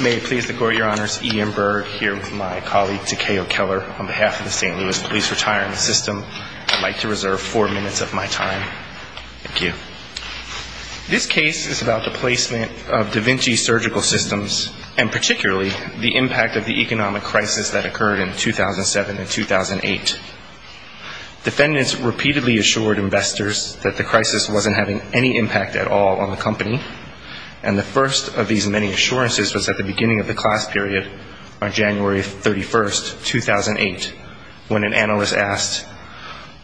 May it please the Court, Your Honors, E.M. Berg here with my colleague Takao Keller on behalf of the St. Louis Police Retirement System. I'd like to reserve four minutes of my time. Thank you. This case is about the placement of Da Vinci Surgical Systems and particularly the impact of the economic crisis that occurred in 2007 and 2008. Defendants repeatedly assured investors that the crisis wasn't having any impact at all on the company. And the first of these many assurances was at the beginning of the class period on January 31, 2008, when an analyst asked,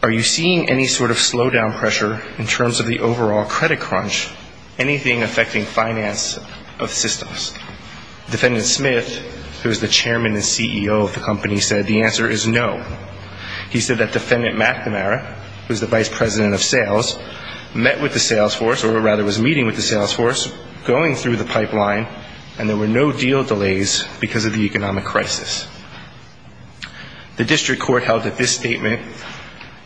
are you seeing any sort of slowdown pressure in terms of the overall credit crunch, anything affecting finance of systems? Defendant Smith, who is the Chairman and CEO of the company, said the answer is no. He said that Defendant McNamara, who is the Vice President of Sales, met with the sales force, or rather was meeting with the sales force, going through the pipeline, and there were no deal delays because of the economic crisis. The District Court held that this statement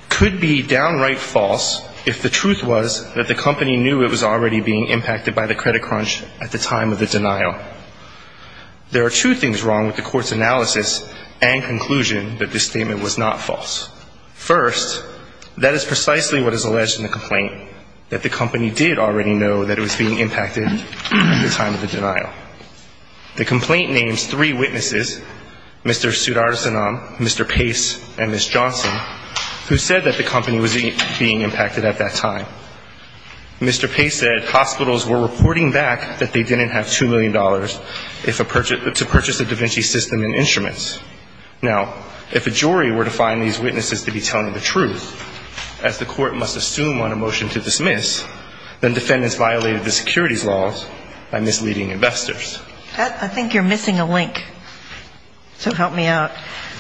could be downright false if the truth was that the company knew it was already being impacted by the credit crunch at the time of the denial. There are two things wrong with the Court's analysis and conclusion that this statement was not false. First, that is precisely what is alleged in the complaint, that the company did already know that it was being impacted at the time of the denial. The complaint names three witnesses, Mr. Sudarsanam, Mr. Pace, and Ms. Johnson, who said that the company was being impacted at that time. Mr. Pace said hospitals were reporting back that they didn't have $2 million to purchase a da Vinci system and instruments. Now, if a jury were to find these witnesses to be telling the truth, as the Court must assume on a motion to dismiss, then defendants violated the securities laws by misleading investors. I think you're missing a link, so help me out.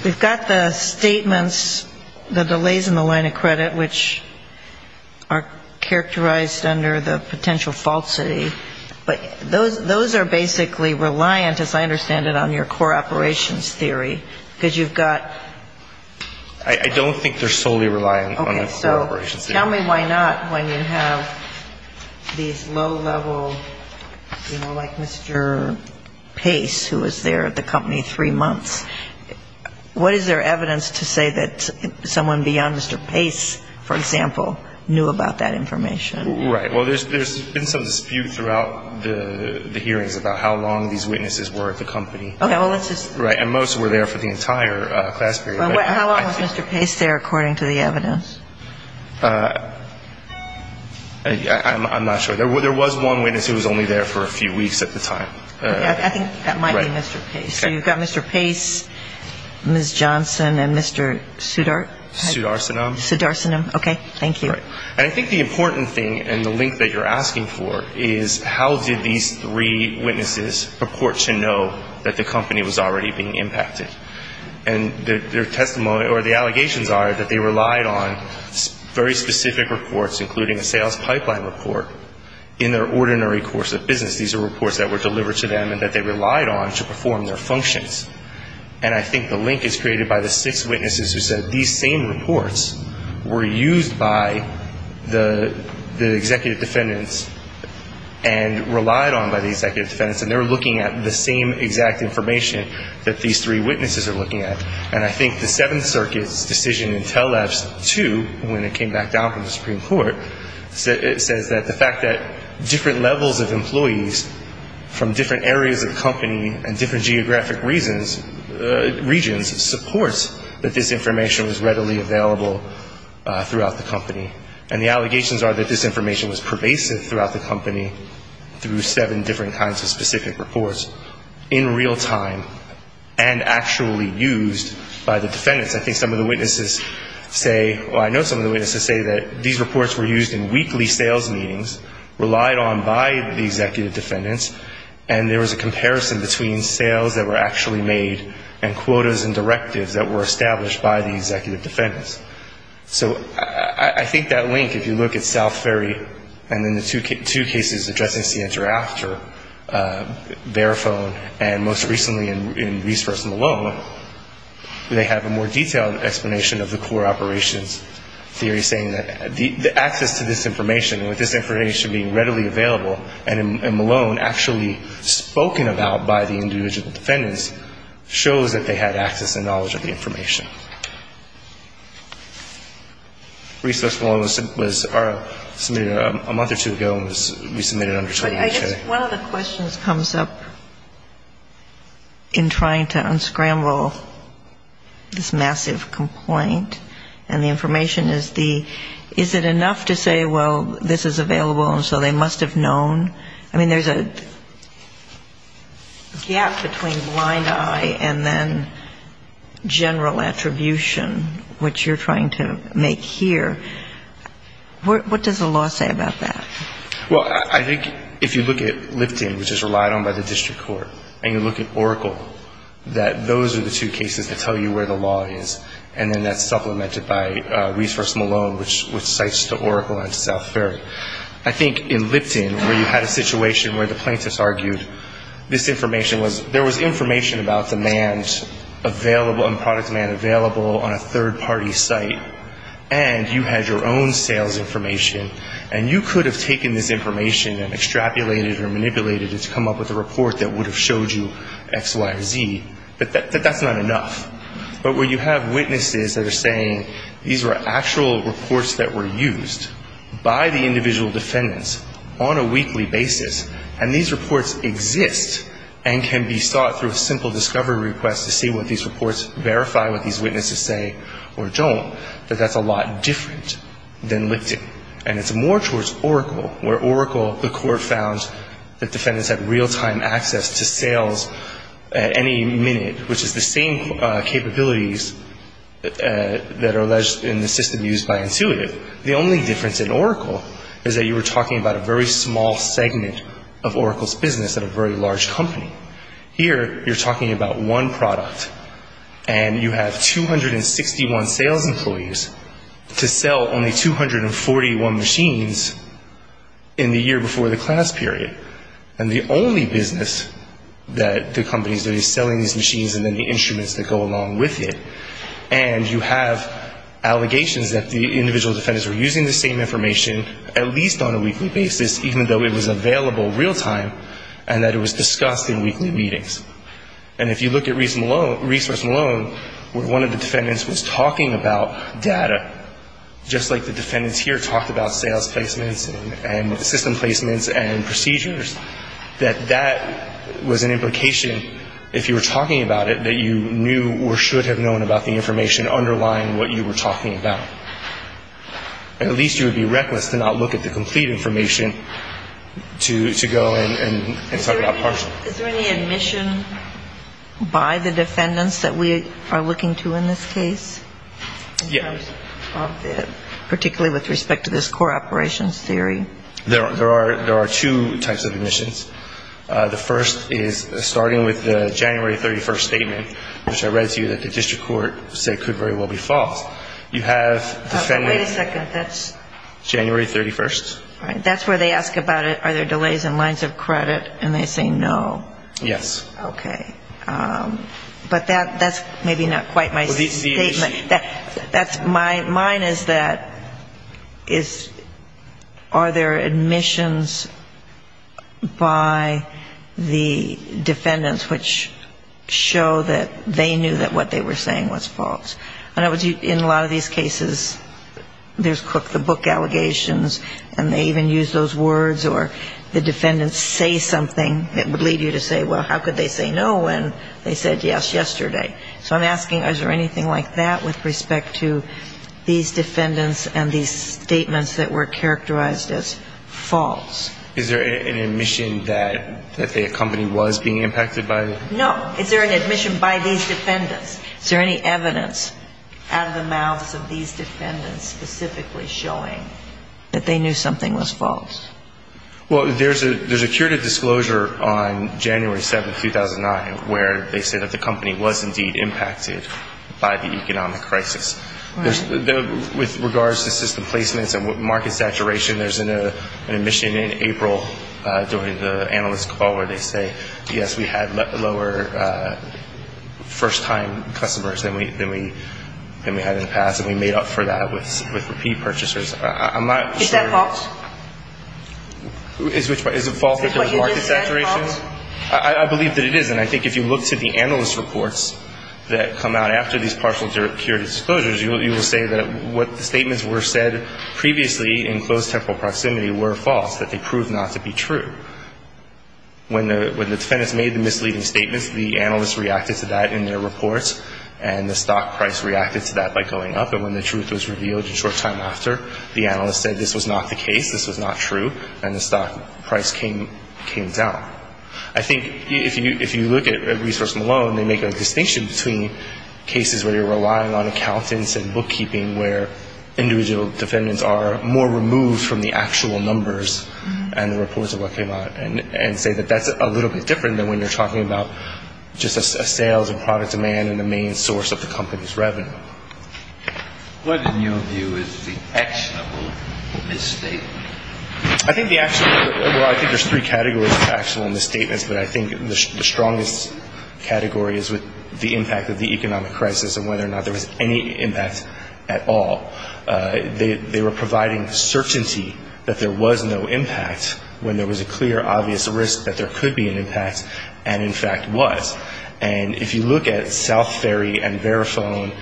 We've got the statements, the delays in the line of credit, which are characterized under the potential falsity, but those are basically reliant, as I understand it, on your core operations theory, because you've got ---- I don't think they're solely reliant on a core operations theory. Tell me why not when you have these low-level, you know, like Mr. Pace, who was there at the company three months. What is there evidence to say that someone beyond Mr. Pace, for example, knew about that information? Right. Well, there's been some dispute throughout the hearings about how long these witnesses were at the company. Okay. Well, let's just ---- Right. And most were there for the entire class period. How long was Mr. Pace there, according to the evidence? I'm not sure. There was one witness who was only there for a few weeks at the time. I think that might be Mr. Pace. Okay. So you've got Mr. Pace, Ms. Johnson, and Mr. Sudarsanam? Sudarsanam. Sudarsanam. Okay. Thank you. Right. And I think the important thing, and the link that you're asking for, is how did these three witnesses purport to know that the company was already being impacted? And their testimony or the allegations are that they relied on very specific reports, including a sales pipeline report, in their ordinary course of business. These are reports that were delivered to them and that they relied on to perform their functions. And I think the link is created by the six witnesses who said these same reports were used by the executive defendants and relied on by the executive defendants. And they're looking at the same exact information that these three witnesses are looking at. And I think the Seventh Circuit's decision in Tell-Labs 2, when it came back down from the Supreme Court, says that the fact that different levels of employees from different areas of the company and different geographic regions supports that this information was readily available throughout the company. And the allegations are that this information was pervasive throughout the company through seven different kinds of specific reports in real time and actually used by the defendants. I think some of the witnesses say, well, I know some of the witnesses say that these reports were used in weekly sales meetings, relied on by the executive defendants, and there was a comparison between sales that were actually made and quotas and directives that were established by the executive defendants. So I think that link, if you look at South Ferry and then the two cases addressing CNTRAFTER, Verifone, and most recently in Reese vs. Malone, they have a more detailed explanation of the core operations theory saying that the access to this information, with this information being readily available and in Malone actually spoken about by the individual defendants, shows that they had access and knowledge of the information. Reese vs. Malone was submitted a month or two ago and was resubmitted under TWA. But I guess one of the questions comes up in trying to unscramble this massive complaint, and the information is the, is it enough to say, well, this is available and so they must have known? I mean, there's a gap between blind eye and then general attribution, which you're trying to make here. What does the law say about that? Well, I think if you look at Lipton, which is relied on by the district court, and you look at Oracle, that those are the two cases that tell you where the law is, and then that's supplemented by Reese vs. Malone, which cites the Oracle and South Ferry. I think in Lipton, where you had a situation where the plaintiffs argued this information was, there was information about demand available, and product demand available on a third-party site, and you had your own sales information, and you could have taken this information and extrapolated or manipulated it to come up with a report that would have showed you X, Y, or Z, but that's not enough. But where you have witnesses that are saying these were actual reports that were used by the individual defendants on a weekly basis, and these reports exist and can be sought through a simple discovery request to see what these reports verify, what these witnesses say or don't, that that's a lot different than Lipton. And it's more towards Oracle, where Oracle, the court found that defendants had real-time access to sales at any minute, which is the same capabilities that are alleged in the system used by Intuitive. The only difference in Oracle is that you were talking about a very small segment of Oracle's business at a very large company. Here, you're talking about one product, and you have 261 sales employees to sell only 241 machines in the year before the class period. And the only business that the company is doing is selling these machines and then the instruments that go along with it. And you have allegations that the individual defendants were using the same information, at least on a weekly basis, even though it was available real-time, and that it was discussed in weekly meetings. And if you look at Reese Malone, where one of the defendants was talking about data, just like the defendants here talked about sales placements and system placements and procedures, that that was an implication, if you were talking about it, that you knew or should have known about the information underlying what you were talking about. At least you would be reckless to not look at the complete information to go and talk about partial. Is there any admission by the defendants that we are looking to in this case? Yes. Particularly with respect to this core operations theory? There are two types of admissions. The first is starting with the January 31st statement, which I read to you that the district court said could very well be false. You have defendants at January 31st. That's where they ask about it, are there delays in lines of credit, and they say no. Yes. Okay. But that's maybe not quite my statement. Mine is that, are there admissions by the defendants which show that they knew that what they were saying was false? In a lot of these cases, there's the book allegations, and they even use those words, or the defendants say something that would lead you to say no. Well, how could they say no when they said yes yesterday? So I'm asking, is there anything like that with respect to these defendants and these statements that were characterized as false? Is there an admission that the company was being impacted by it? No. Is there an admission by these defendants? Is there any evidence out of the mouths of these defendants specifically showing that they knew something was false? Well, there's a curated disclosure on January 7th, 2009, where they say that the company was indeed impacted by the economic crisis. With regards to system placements and market saturation, there's an admission in April during the analyst call where they say, yes, we had lower first-time customers than we had in the past, and we made up for that with repeat purchasers. Is that false? I believe that it is, and I think if you look to the analyst reports that come out after these partial curated disclosures, you will say that what the statements were said previously in close temporal proximity were false, that they proved not to be true. When the defendants made the misleading statements, the analyst reacted to that in their reports, and the stock price reacted to that by going up, and when the truth was revealed a short time after, the analyst said this was not the case, this was not true, and the stock price came down. I think if you look at Resource Malone, they make a distinction between cases where you're relying on accountants and bookkeeping, where individual defendants are more removed from the actual numbers and the reports of what came out, and say that that's a little bit different than when you're talking about just a sales and product demand and the main source of the company's revenue. What, in your view, is the actionable misstatement? I think there's three categories of actual misstatements, but I think the strongest category is with the impact of the economic impact at all. They were providing certainty that there was no impact, when there was a clear, obvious risk that there could be an impact, and in fact was. And if you look at South Ferry and Verifone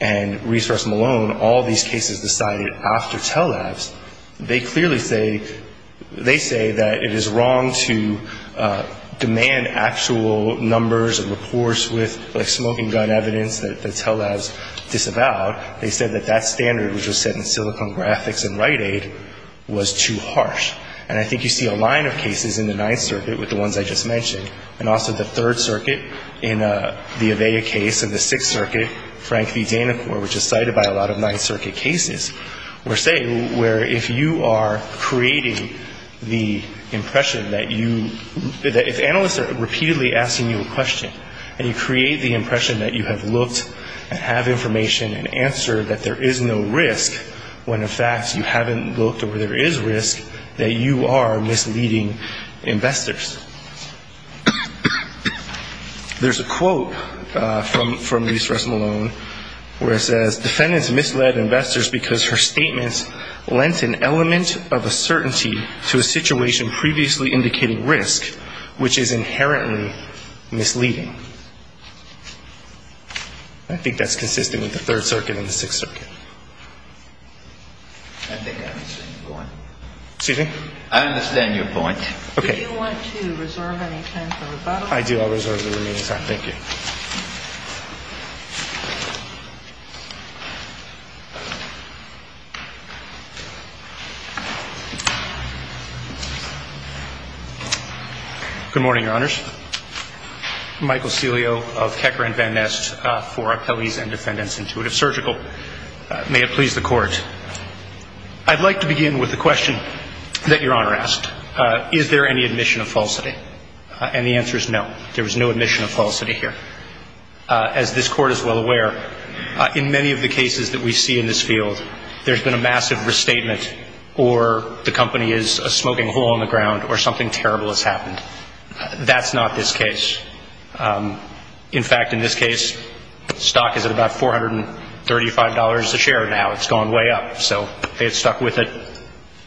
and Resource Malone, all these cases decided after tell labs, they clearly say, they say that it is wrong to demand actual numbers and reports with, like, smoking gun evidence that tell labs disavow. They said that that standard, which was set in Silicon Graphics and Rite Aid, was too harsh. And I think you see a line of cases in the Ninth Circuit with the ones I just mentioned, and also the Third Circuit in the AVEA case and the Sixth Circuit, Frank v. Danacor, which is cited by a lot of Ninth Circuit cases, were saying where if you are creating the impression that you — if analysts are repeatedly asking you a question, and you create the impression that you have looked and have information and answer that there is no risk, when in fact you haven't looked or there is risk, that you are misleading investors. There's a quote from Resource Malone where it says, defendants misled investors because her statements lent an element of a certainty to a situation previously indicating risk, which is inherently misleading. I think that's consistent with the Third Circuit and the Sixth Circuit. I think I understand your point. Excuse me? I understand your point. Okay. Do you want to reserve any time for rebuttal? I do. I'll reserve the remaining time. Thank you. Good morning, Your Honors. Michael Celio of Hecker and Van Nest for Appellees and Defendants Intuitive Surgical. May it please the Court. I'd like to begin with a question that Your Honor asked. Is there any admission of falsity? And the answer is no. There was no admission of falsity here. As this Court is well aware, in many of the cases that we see in this field, there's been a massive restatement or the company is a smoking hole in the ground or something terrible has happened. That's not this case. In fact, in this case, stock is at about $435 a share now. It's gone way up. So if they had stuck with it,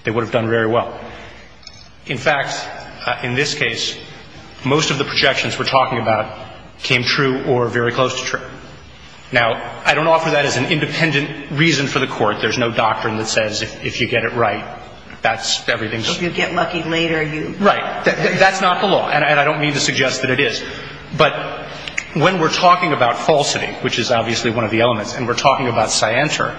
they would have done very well. In fact, in this case, most of the projections we're talking about came true or very close to true. Now, I don't offer that as an independent reason for the Court. There's no doctrine that says if you get it right, that's everything. If you get lucky later, you. Right. That's not the law. And I don't mean to suggest that it is. But when we're talking about falsity, which is obviously one of the elements, and we're talking about Scienter,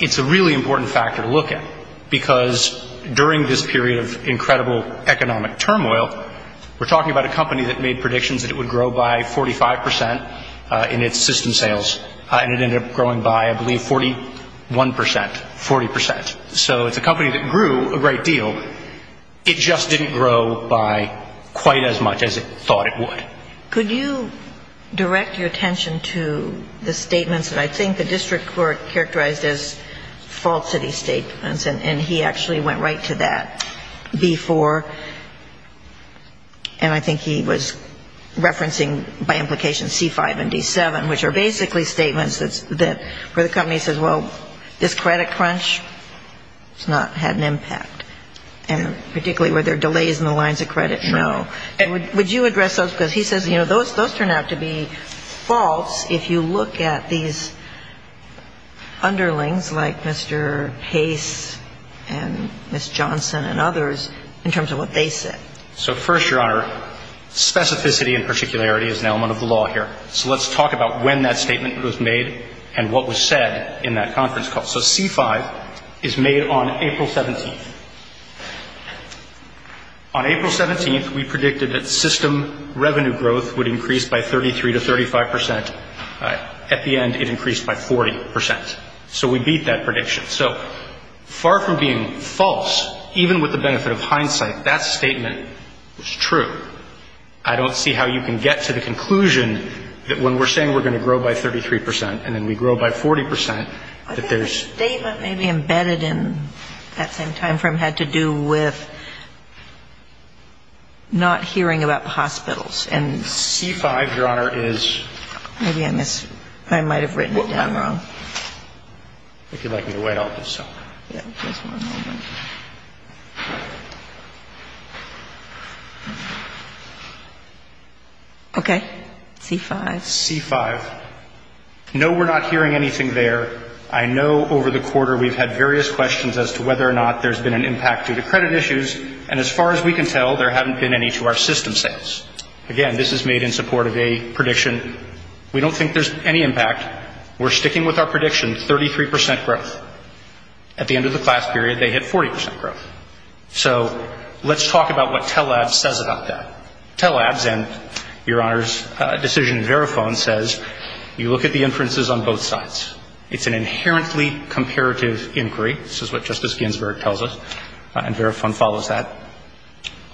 it's a really important factor to look at because during this period of incredible economic turmoil, we're talking about a company that made predictions that it would grow by 45 percent in its system sales, and it ended up growing by, I believe, 41 percent, 40 percent. So it's a company that grew a great deal. It just didn't grow by quite as much as it thought it would. Could you direct your attention to the statements that I think the district court characterized as falsity statements? And he actually went right to that before, and I think he was referencing by implication C-5 and D-7, which are basically statements where the company says, well, this credit crunch has not had an impact, and particularly where there are delays in the lines of credit, no. Would you address those? Because he says, you know, those turn out to be false if you look at these underlings like Mr. Pace and Ms. Johnson and others in terms of what they said. So first, Your Honor, specificity and particularity is an element of the law here. So let's talk about when that statement was made and what was said in that conference call. So C-5 is made on April 17th. On April 17th, we predicted that system revenue growth would increase by 33 to 35 percent. At the end, it increased by 40 percent. So we beat that prediction. So far from being false, even with the benefit of hindsight, that statement was true. I don't see how you can get to the conclusion that when we're saying we're going to grow by 33 percent and then we grow by 40 percent that there's embedded in that same time frame had to do with not hearing about the hospitals. And C-5, Your Honor, is. Maybe I might have written it down wrong. If you'd like me to wait, I'll do so. Okay. C-5. No, we're not hearing anything there. I know over the quarter we've had various questions as to whether or not there's been an impact due to credit issues. And as far as we can tell, there haven't been any to our system sales. Again, this is made in support of a prediction. We don't think there's any impact. We're sticking with our prediction, 33 percent growth. At the end of the class period, they hit 40 percent growth. So let's talk about what TELABS says about that. TELABS and, Your Honor's decision in Verifone says you look at the inferences on both sides. It's an inherently comparative inquiry. This is what Justice Ginsburg tells us. And Verifone follows that.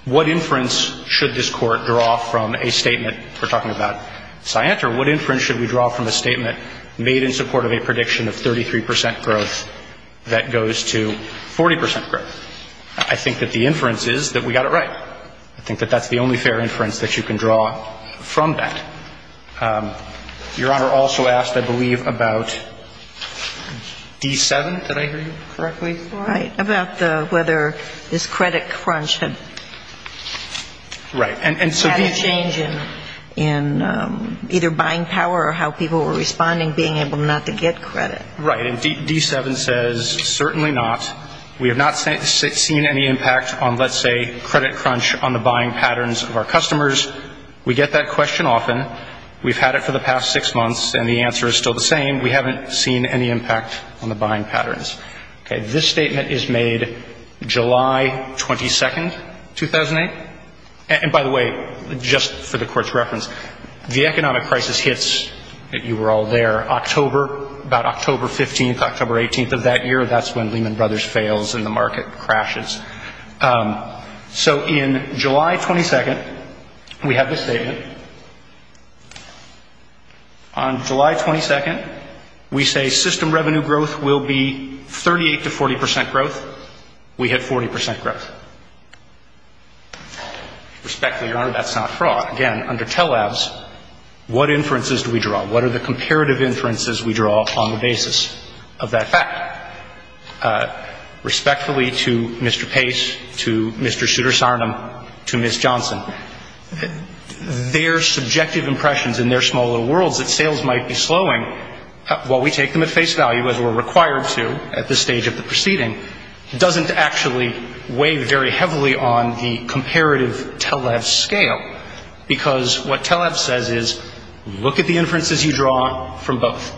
What inference should this Court draw from a statement? We're talking about Scienter. What inference should we draw from a statement made in support of a prediction of 33 percent growth that goes to 40 percent growth? I think that the inference is that we got it right. I think that that's the only fair inference that you can draw from that. Your Honor also asked, I believe, about D-7. Did I hear you correctly? Right. About whether this credit crunch had had a change in either buying or selling. Right. And D-7 says certainly not. We have not seen any impact on, let's say, credit crunch on the buying patterns of our customers. We get that question often. We've had it for the past six months. And the answer is still the same. We haven't seen any impact on the buying patterns. Okay. This statement is made July 22nd, 2008. And by the way, just for the Court's reference, the economic crisis hits, you were all there, October, about October 15th, October 18th of that year. That's when Lehman Brothers fails and the market crashes. So in July 22nd, we have this statement. On July 22nd, we say system revenue growth will be 38 to 40 percent growth. Respectfully, Your Honor, that's not fraud. Again, under tele-abs, what inferences do we draw? What are the comparative inferences we draw on the basis of that fact? Respectfully to Mr. Pace, to Mr. Sudarsanam, to Ms. Johnson, their subjective impressions in their small little worlds that sales might be slowing, while we take them at face value, as we're required to at this stage of the proceeding, doesn't actually weigh very heavily on the comparative tele-abs scale. Because what tele-abs says is, look at the inferences you draw from both.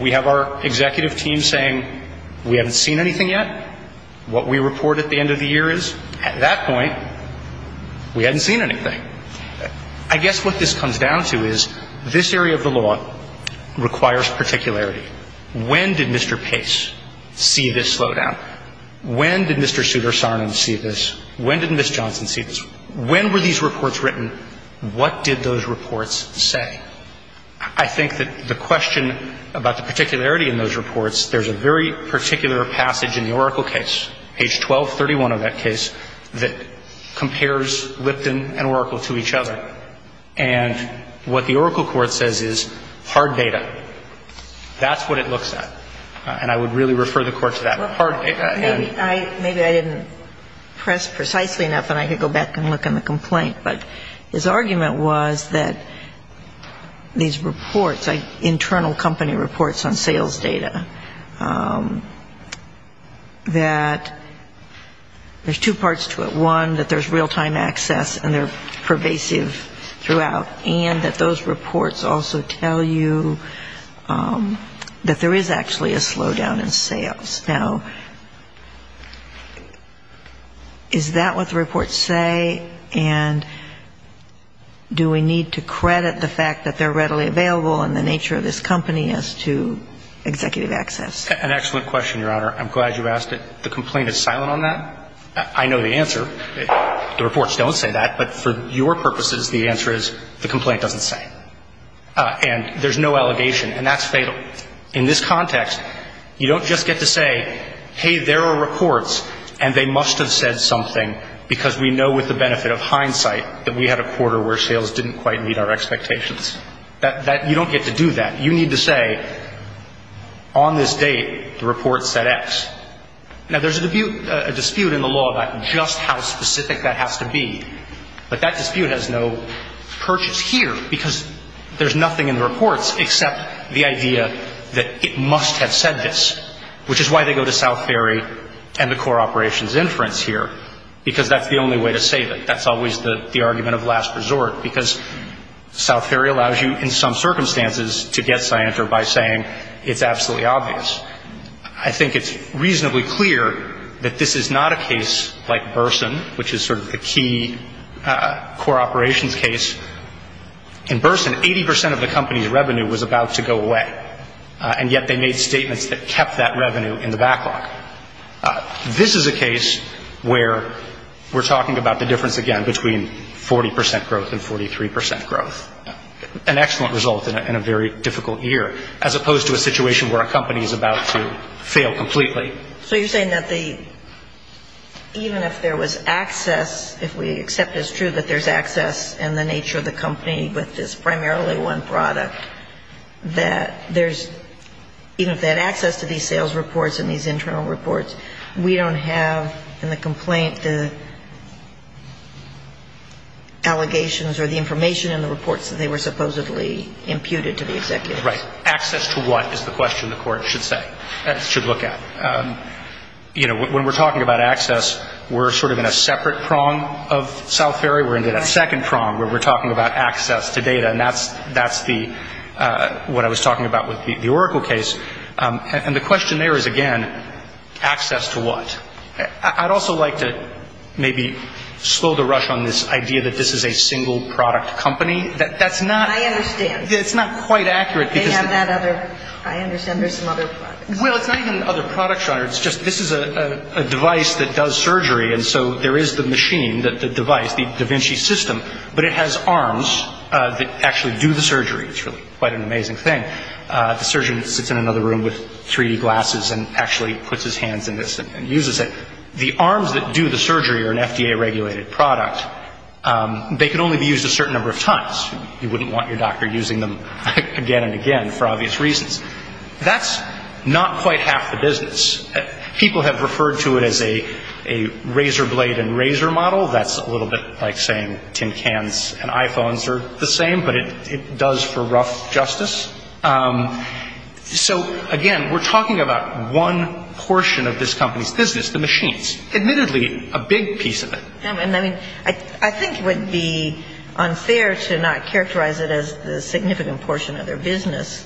We have our executive team saying, we haven't seen anything yet. What we report at the end of the year is, at that point, we hadn't seen anything. I guess what this comes down to is, this area of the law requires particularity. When did Mr. Pace see this slowdown? When did Mr. Sudarsanam see this? When did Ms. Johnson see this? When were these reports written? What did those reports say? I think that the question about the particularity in those reports, there's a very particular passage in the Oracle case, page 1231 of that case, that compares Lipton and Oracle to each other. And what the Oracle court says is hard data. That's what it looks at. And I would really refer the court to that hard data. Maybe I didn't press precisely enough, and I could go back and look in the complaint. But his argument was that these reports, internal company reports on sales data, that there's two parts to it. One, that there's real-time access, and they're pervasive throughout. And that those reports also tell you that there is actually a slowdown in sales. Now, is that what the reports say? And do we need to credit the fact that they're readily available and the nature of this company as to executive access? An excellent question, Your Honor. I'm glad you asked it. The complaint is silent on that. I know the answer. The reports don't say that. But for your purposes, the answer is the complaint doesn't say. And there's no allegation. And that's fatal. In this context, you don't just get to say, hey, there are reports, and they must have said something because we know with the benefit of hindsight that we had a quarter where sales didn't quite meet our expectations. You don't get to do that. You need to say, on this date, the report said X. Now, there's a dispute in the law about just how specific that has to be. But that dispute has no purchase here because there's nothing in the reports except the idea that it must have said this, which is why they go to South Ferry and the core operations inference here, because that's the only way to save it. That's always the argument of last resort because South Ferry allows you in some circumstances to get Scienter by saying it's absolutely obvious. I think it's reasonably clear that this is not a case like Burson, which is sort of the key core operations case. In Burson, 80% of the company's revenue was about to go away, and yet they made statements that kept that revenue in the backlog. This is a case where we're talking about the difference, again, between 40% growth and 43% growth, an excellent result in a very difficult year, as opposed to a situation where a company is about to fail completely. So you're saying that even if there was access, if we accept it's true that there's access in the nature of the company with this primarily one product, that there's, even if they had access to these sales reports and these internal reports, we don't have in the complaint the allegations or the information in the reports that they were supposedly imputed to the executives? Right. Access to what is the question the court should say, should look at. You know, when we're talking about access, we're sort of in a separate prong of South Ferry. We're in a second prong where we're talking about access to data, and that's what I was talking about with the Oracle case. And the question there is, again, access to what? I'd also like to maybe slow the rush on this idea that this is a single product company. I understand. It's not quite accurate. I understand there's some other products. Well, it's not even other products, Your Honor. It's just this is a device that does surgery, and so there is the machine, the device, the Da Vinci system, but it has arms that actually do the surgery. It's really quite an amazing thing. The surgeon sits in another room with 3D glasses and actually puts his hands in this and uses it. The arms that do the surgery are an FDA-regulated product. They can only be used a certain number of times. You wouldn't want your doctor using them again and again for obvious reasons. That's not quite half the business. People have referred to it as a razor blade and razor model. That's a little bit like saying tin cans and iPhones are the same, but it does for rough justice. So, again, we're talking about one portion of this company's business, the machines, admittedly a big piece of it. And, I mean, I think it would be unfair to not characterize it as the significant portion of their business,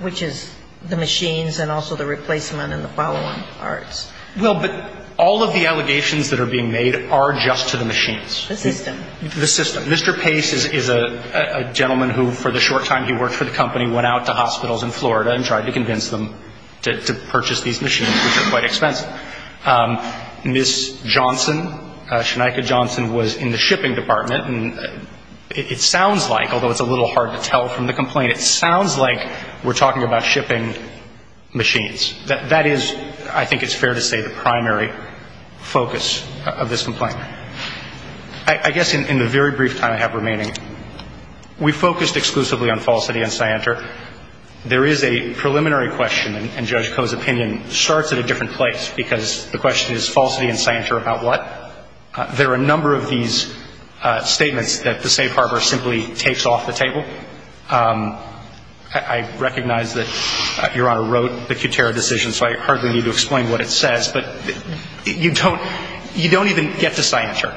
which is the machines and also the replacement and the follow-on parts. Well, but all of the allegations that are being made are just to the machines. The system. The system. Mr. Pace is a gentleman who, for the short time he worked for the company, went out to hospitals in Florida and tried to convince them to purchase these machines, which are quite expensive. Ms. Johnson, Shneika Johnson, was in the shipping department, and it sounds like, although it's a little hard to tell from the complaint, it sounds like we're talking about shipping machines. That is, I think it's fair to say, the primary focus of this complaint. I guess in the very brief time I have remaining, we focused exclusively on falsity and scienter. There is a preliminary question, and Judge Koh's opinion starts at a different place, because the question is falsity and scienter about what? There are a number of these statements that the safe harbor simply takes off the table. I recognize that Your Honor wrote the Kutera decision, so I hardly need to explain what it says, but you don't even get to scienter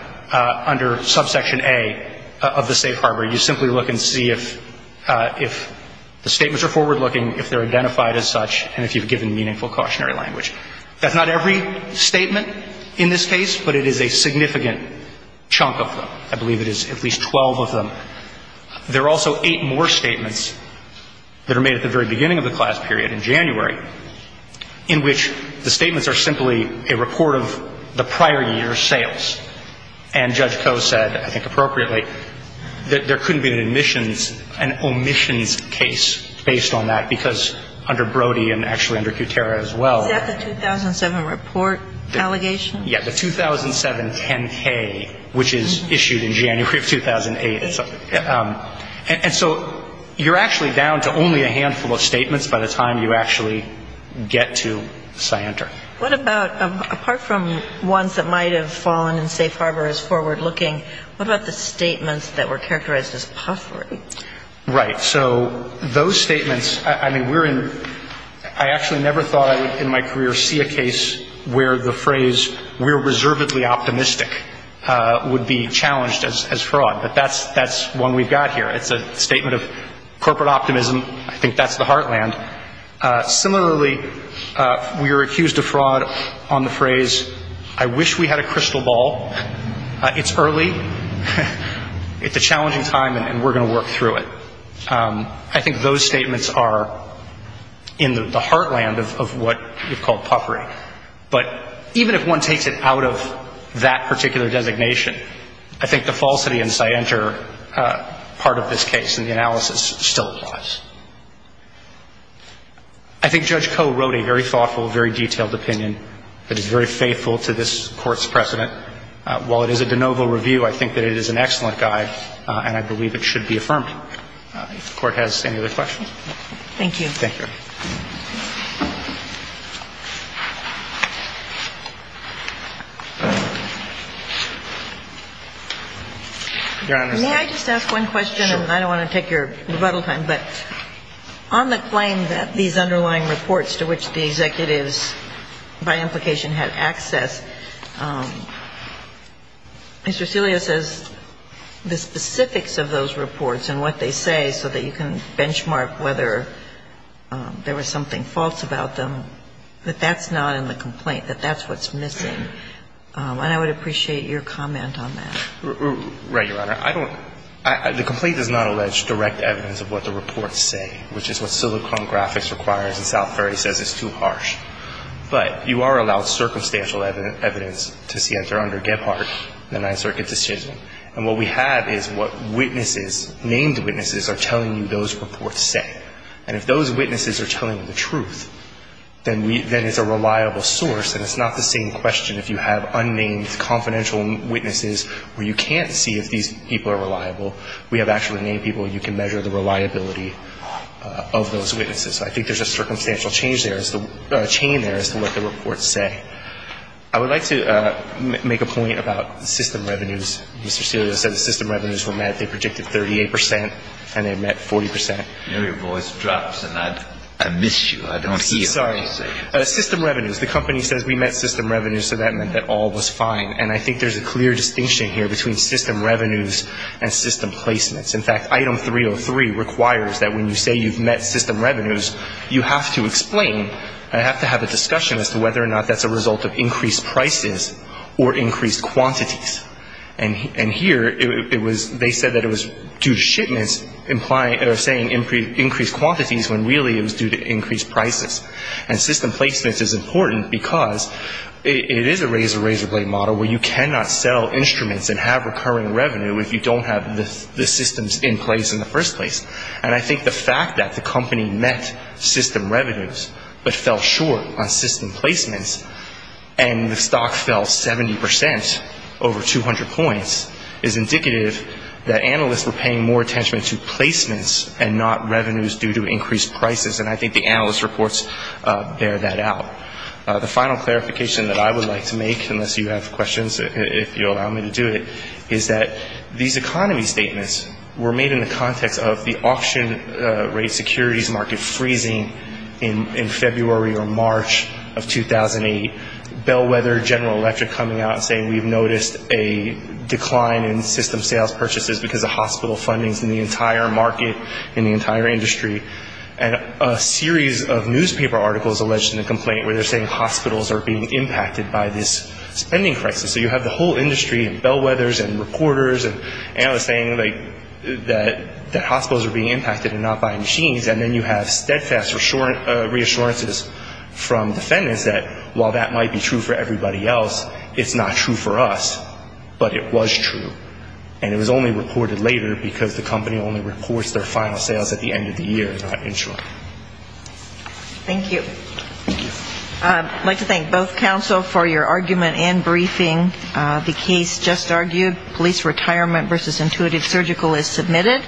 under subsection A of the safe harbor. You simply look and see if the statements are forward-looking, if they're identified as such, and if you've given meaningful cautionary language. That's not every statement in this case, but it is a significant chunk of them. I believe it is at least 12 of them. There are also eight more statements that are made at the very beginning of the class period in January in which the statements are simply a report of the prior year's sales. And Judge Koh said, I think appropriately, that there couldn't be an omissions case based on that, because under Brody and actually under Kutera as well. Is that the 2007 report allegation? Yeah, the 2007 10-K, which is issued in January of 2008. And so you're actually down to only a handful of statements by the time you actually get to scienter. What about, apart from ones that might have fallen in safe harbor as forward-looking, what about the statements that were characterized as puffery? Right. So those statements, I mean, we're in – I actually never thought I would in my career see a case where the phrase, we're reservedly optimistic, would be challenged as fraud. But that's one we've got here. It's a statement of corporate optimism. I think that's the heartland. Similarly, we were accused of fraud on the phrase, I wish we had a crystal ball. It's early. It's a challenging time, and we're going to work through it. I think those statements are in the heartland of what we've called puffery. But even if one takes it out of that particular designation, I think the falsity in scienter part of this case in the analysis still applies. I think Judge Koh wrote a very thoughtful, very detailed opinion that is very faithful to this Court's precedent. While it is a de novo review, I think that it is an excellent guide, and I believe it should be affirmed. If the Court has any other questions. Thank you. Thank you. May I just ask one question? I don't want to take your rebuttal time, but on the claim that these underlying reports to which the executives, by implication, had access, Mr. Cillia says the specifics of those reports and what they say so that you can benchmark whether or not there was fraud about them, that that's not in the complaint, that that's what's missing. And I would appreciate your comment on that. Right, Your Honor. I don't – the complaint does not allege direct evidence of what the reports say, which is what Silicon Graphics requires, and South Ferry says it's too harsh. But you are allowed circumstantial evidence to see if they're under Gebhardt, the Ninth Circuit decision. And what we have is what witnesses, named witnesses, are telling you those reports say. And if those witnesses are telling the truth, then it's a reliable source and it's not the same question if you have unnamed confidential witnesses where you can't see if these people are reliable. We have actually named people. You can measure the reliability of those witnesses. I think there's a circumstantial change there, a chain there as to what the reports say. I would like to make a point about system revenues. Mr. Cillia said the system revenues were met. They predicted 38 percent and they met 40 percent. You know, your voice drops and I miss you. I don't hear what you say. Sorry. System revenues. The company says we met system revenues, so that meant that all was fine. And I think there's a clear distinction here between system revenues and system placements. In fact, Item 303 requires that when you say you've met system revenues, you have to explain and have to have a discussion as to whether or not that's a result of increased prices or increased quantities. And here it was they said that it was due to shipments implying or saying increased quantities when really it was due to increased prices. And system placements is important because it is a razor, razor blade model where you cannot sell instruments and have recurring revenue if you don't have the systems in place in the first place. And I think the fact that the company met system revenues but fell short on system placements and the stock fell 70 percent, over 200 points, is indicative that analysts were paying more attention to placements and not revenues due to increased prices. And I think the analyst reports bear that out. The final clarification that I would like to make, unless you have questions, if you'll allow me to do it, is that these economy statements were made in the context of the auction rate securities market freezing in February or March of 2008. Bellwether, General Electric coming out and saying we've noticed a decline in system sales purchases because of hospital fundings in the entire market, in the entire industry. And a series of newspaper articles alleged in the complaint where they're saying hospitals are being impacted by this spending crisis. So you have the whole industry and Bellwethers and reporters and analysts saying that hospitals are being impacted and not buying machines. And then you have steadfast reassurances from defendants that while that might be true for everybody else, it's not true for us. But it was true. And it was only reported later because the company only reports their final sales at the end of the year, not in short. Thank you. Thank you. I'd like to thank both counsel for your argument and briefing. The case just argued, police retirement versus intuitive surgical is submitted.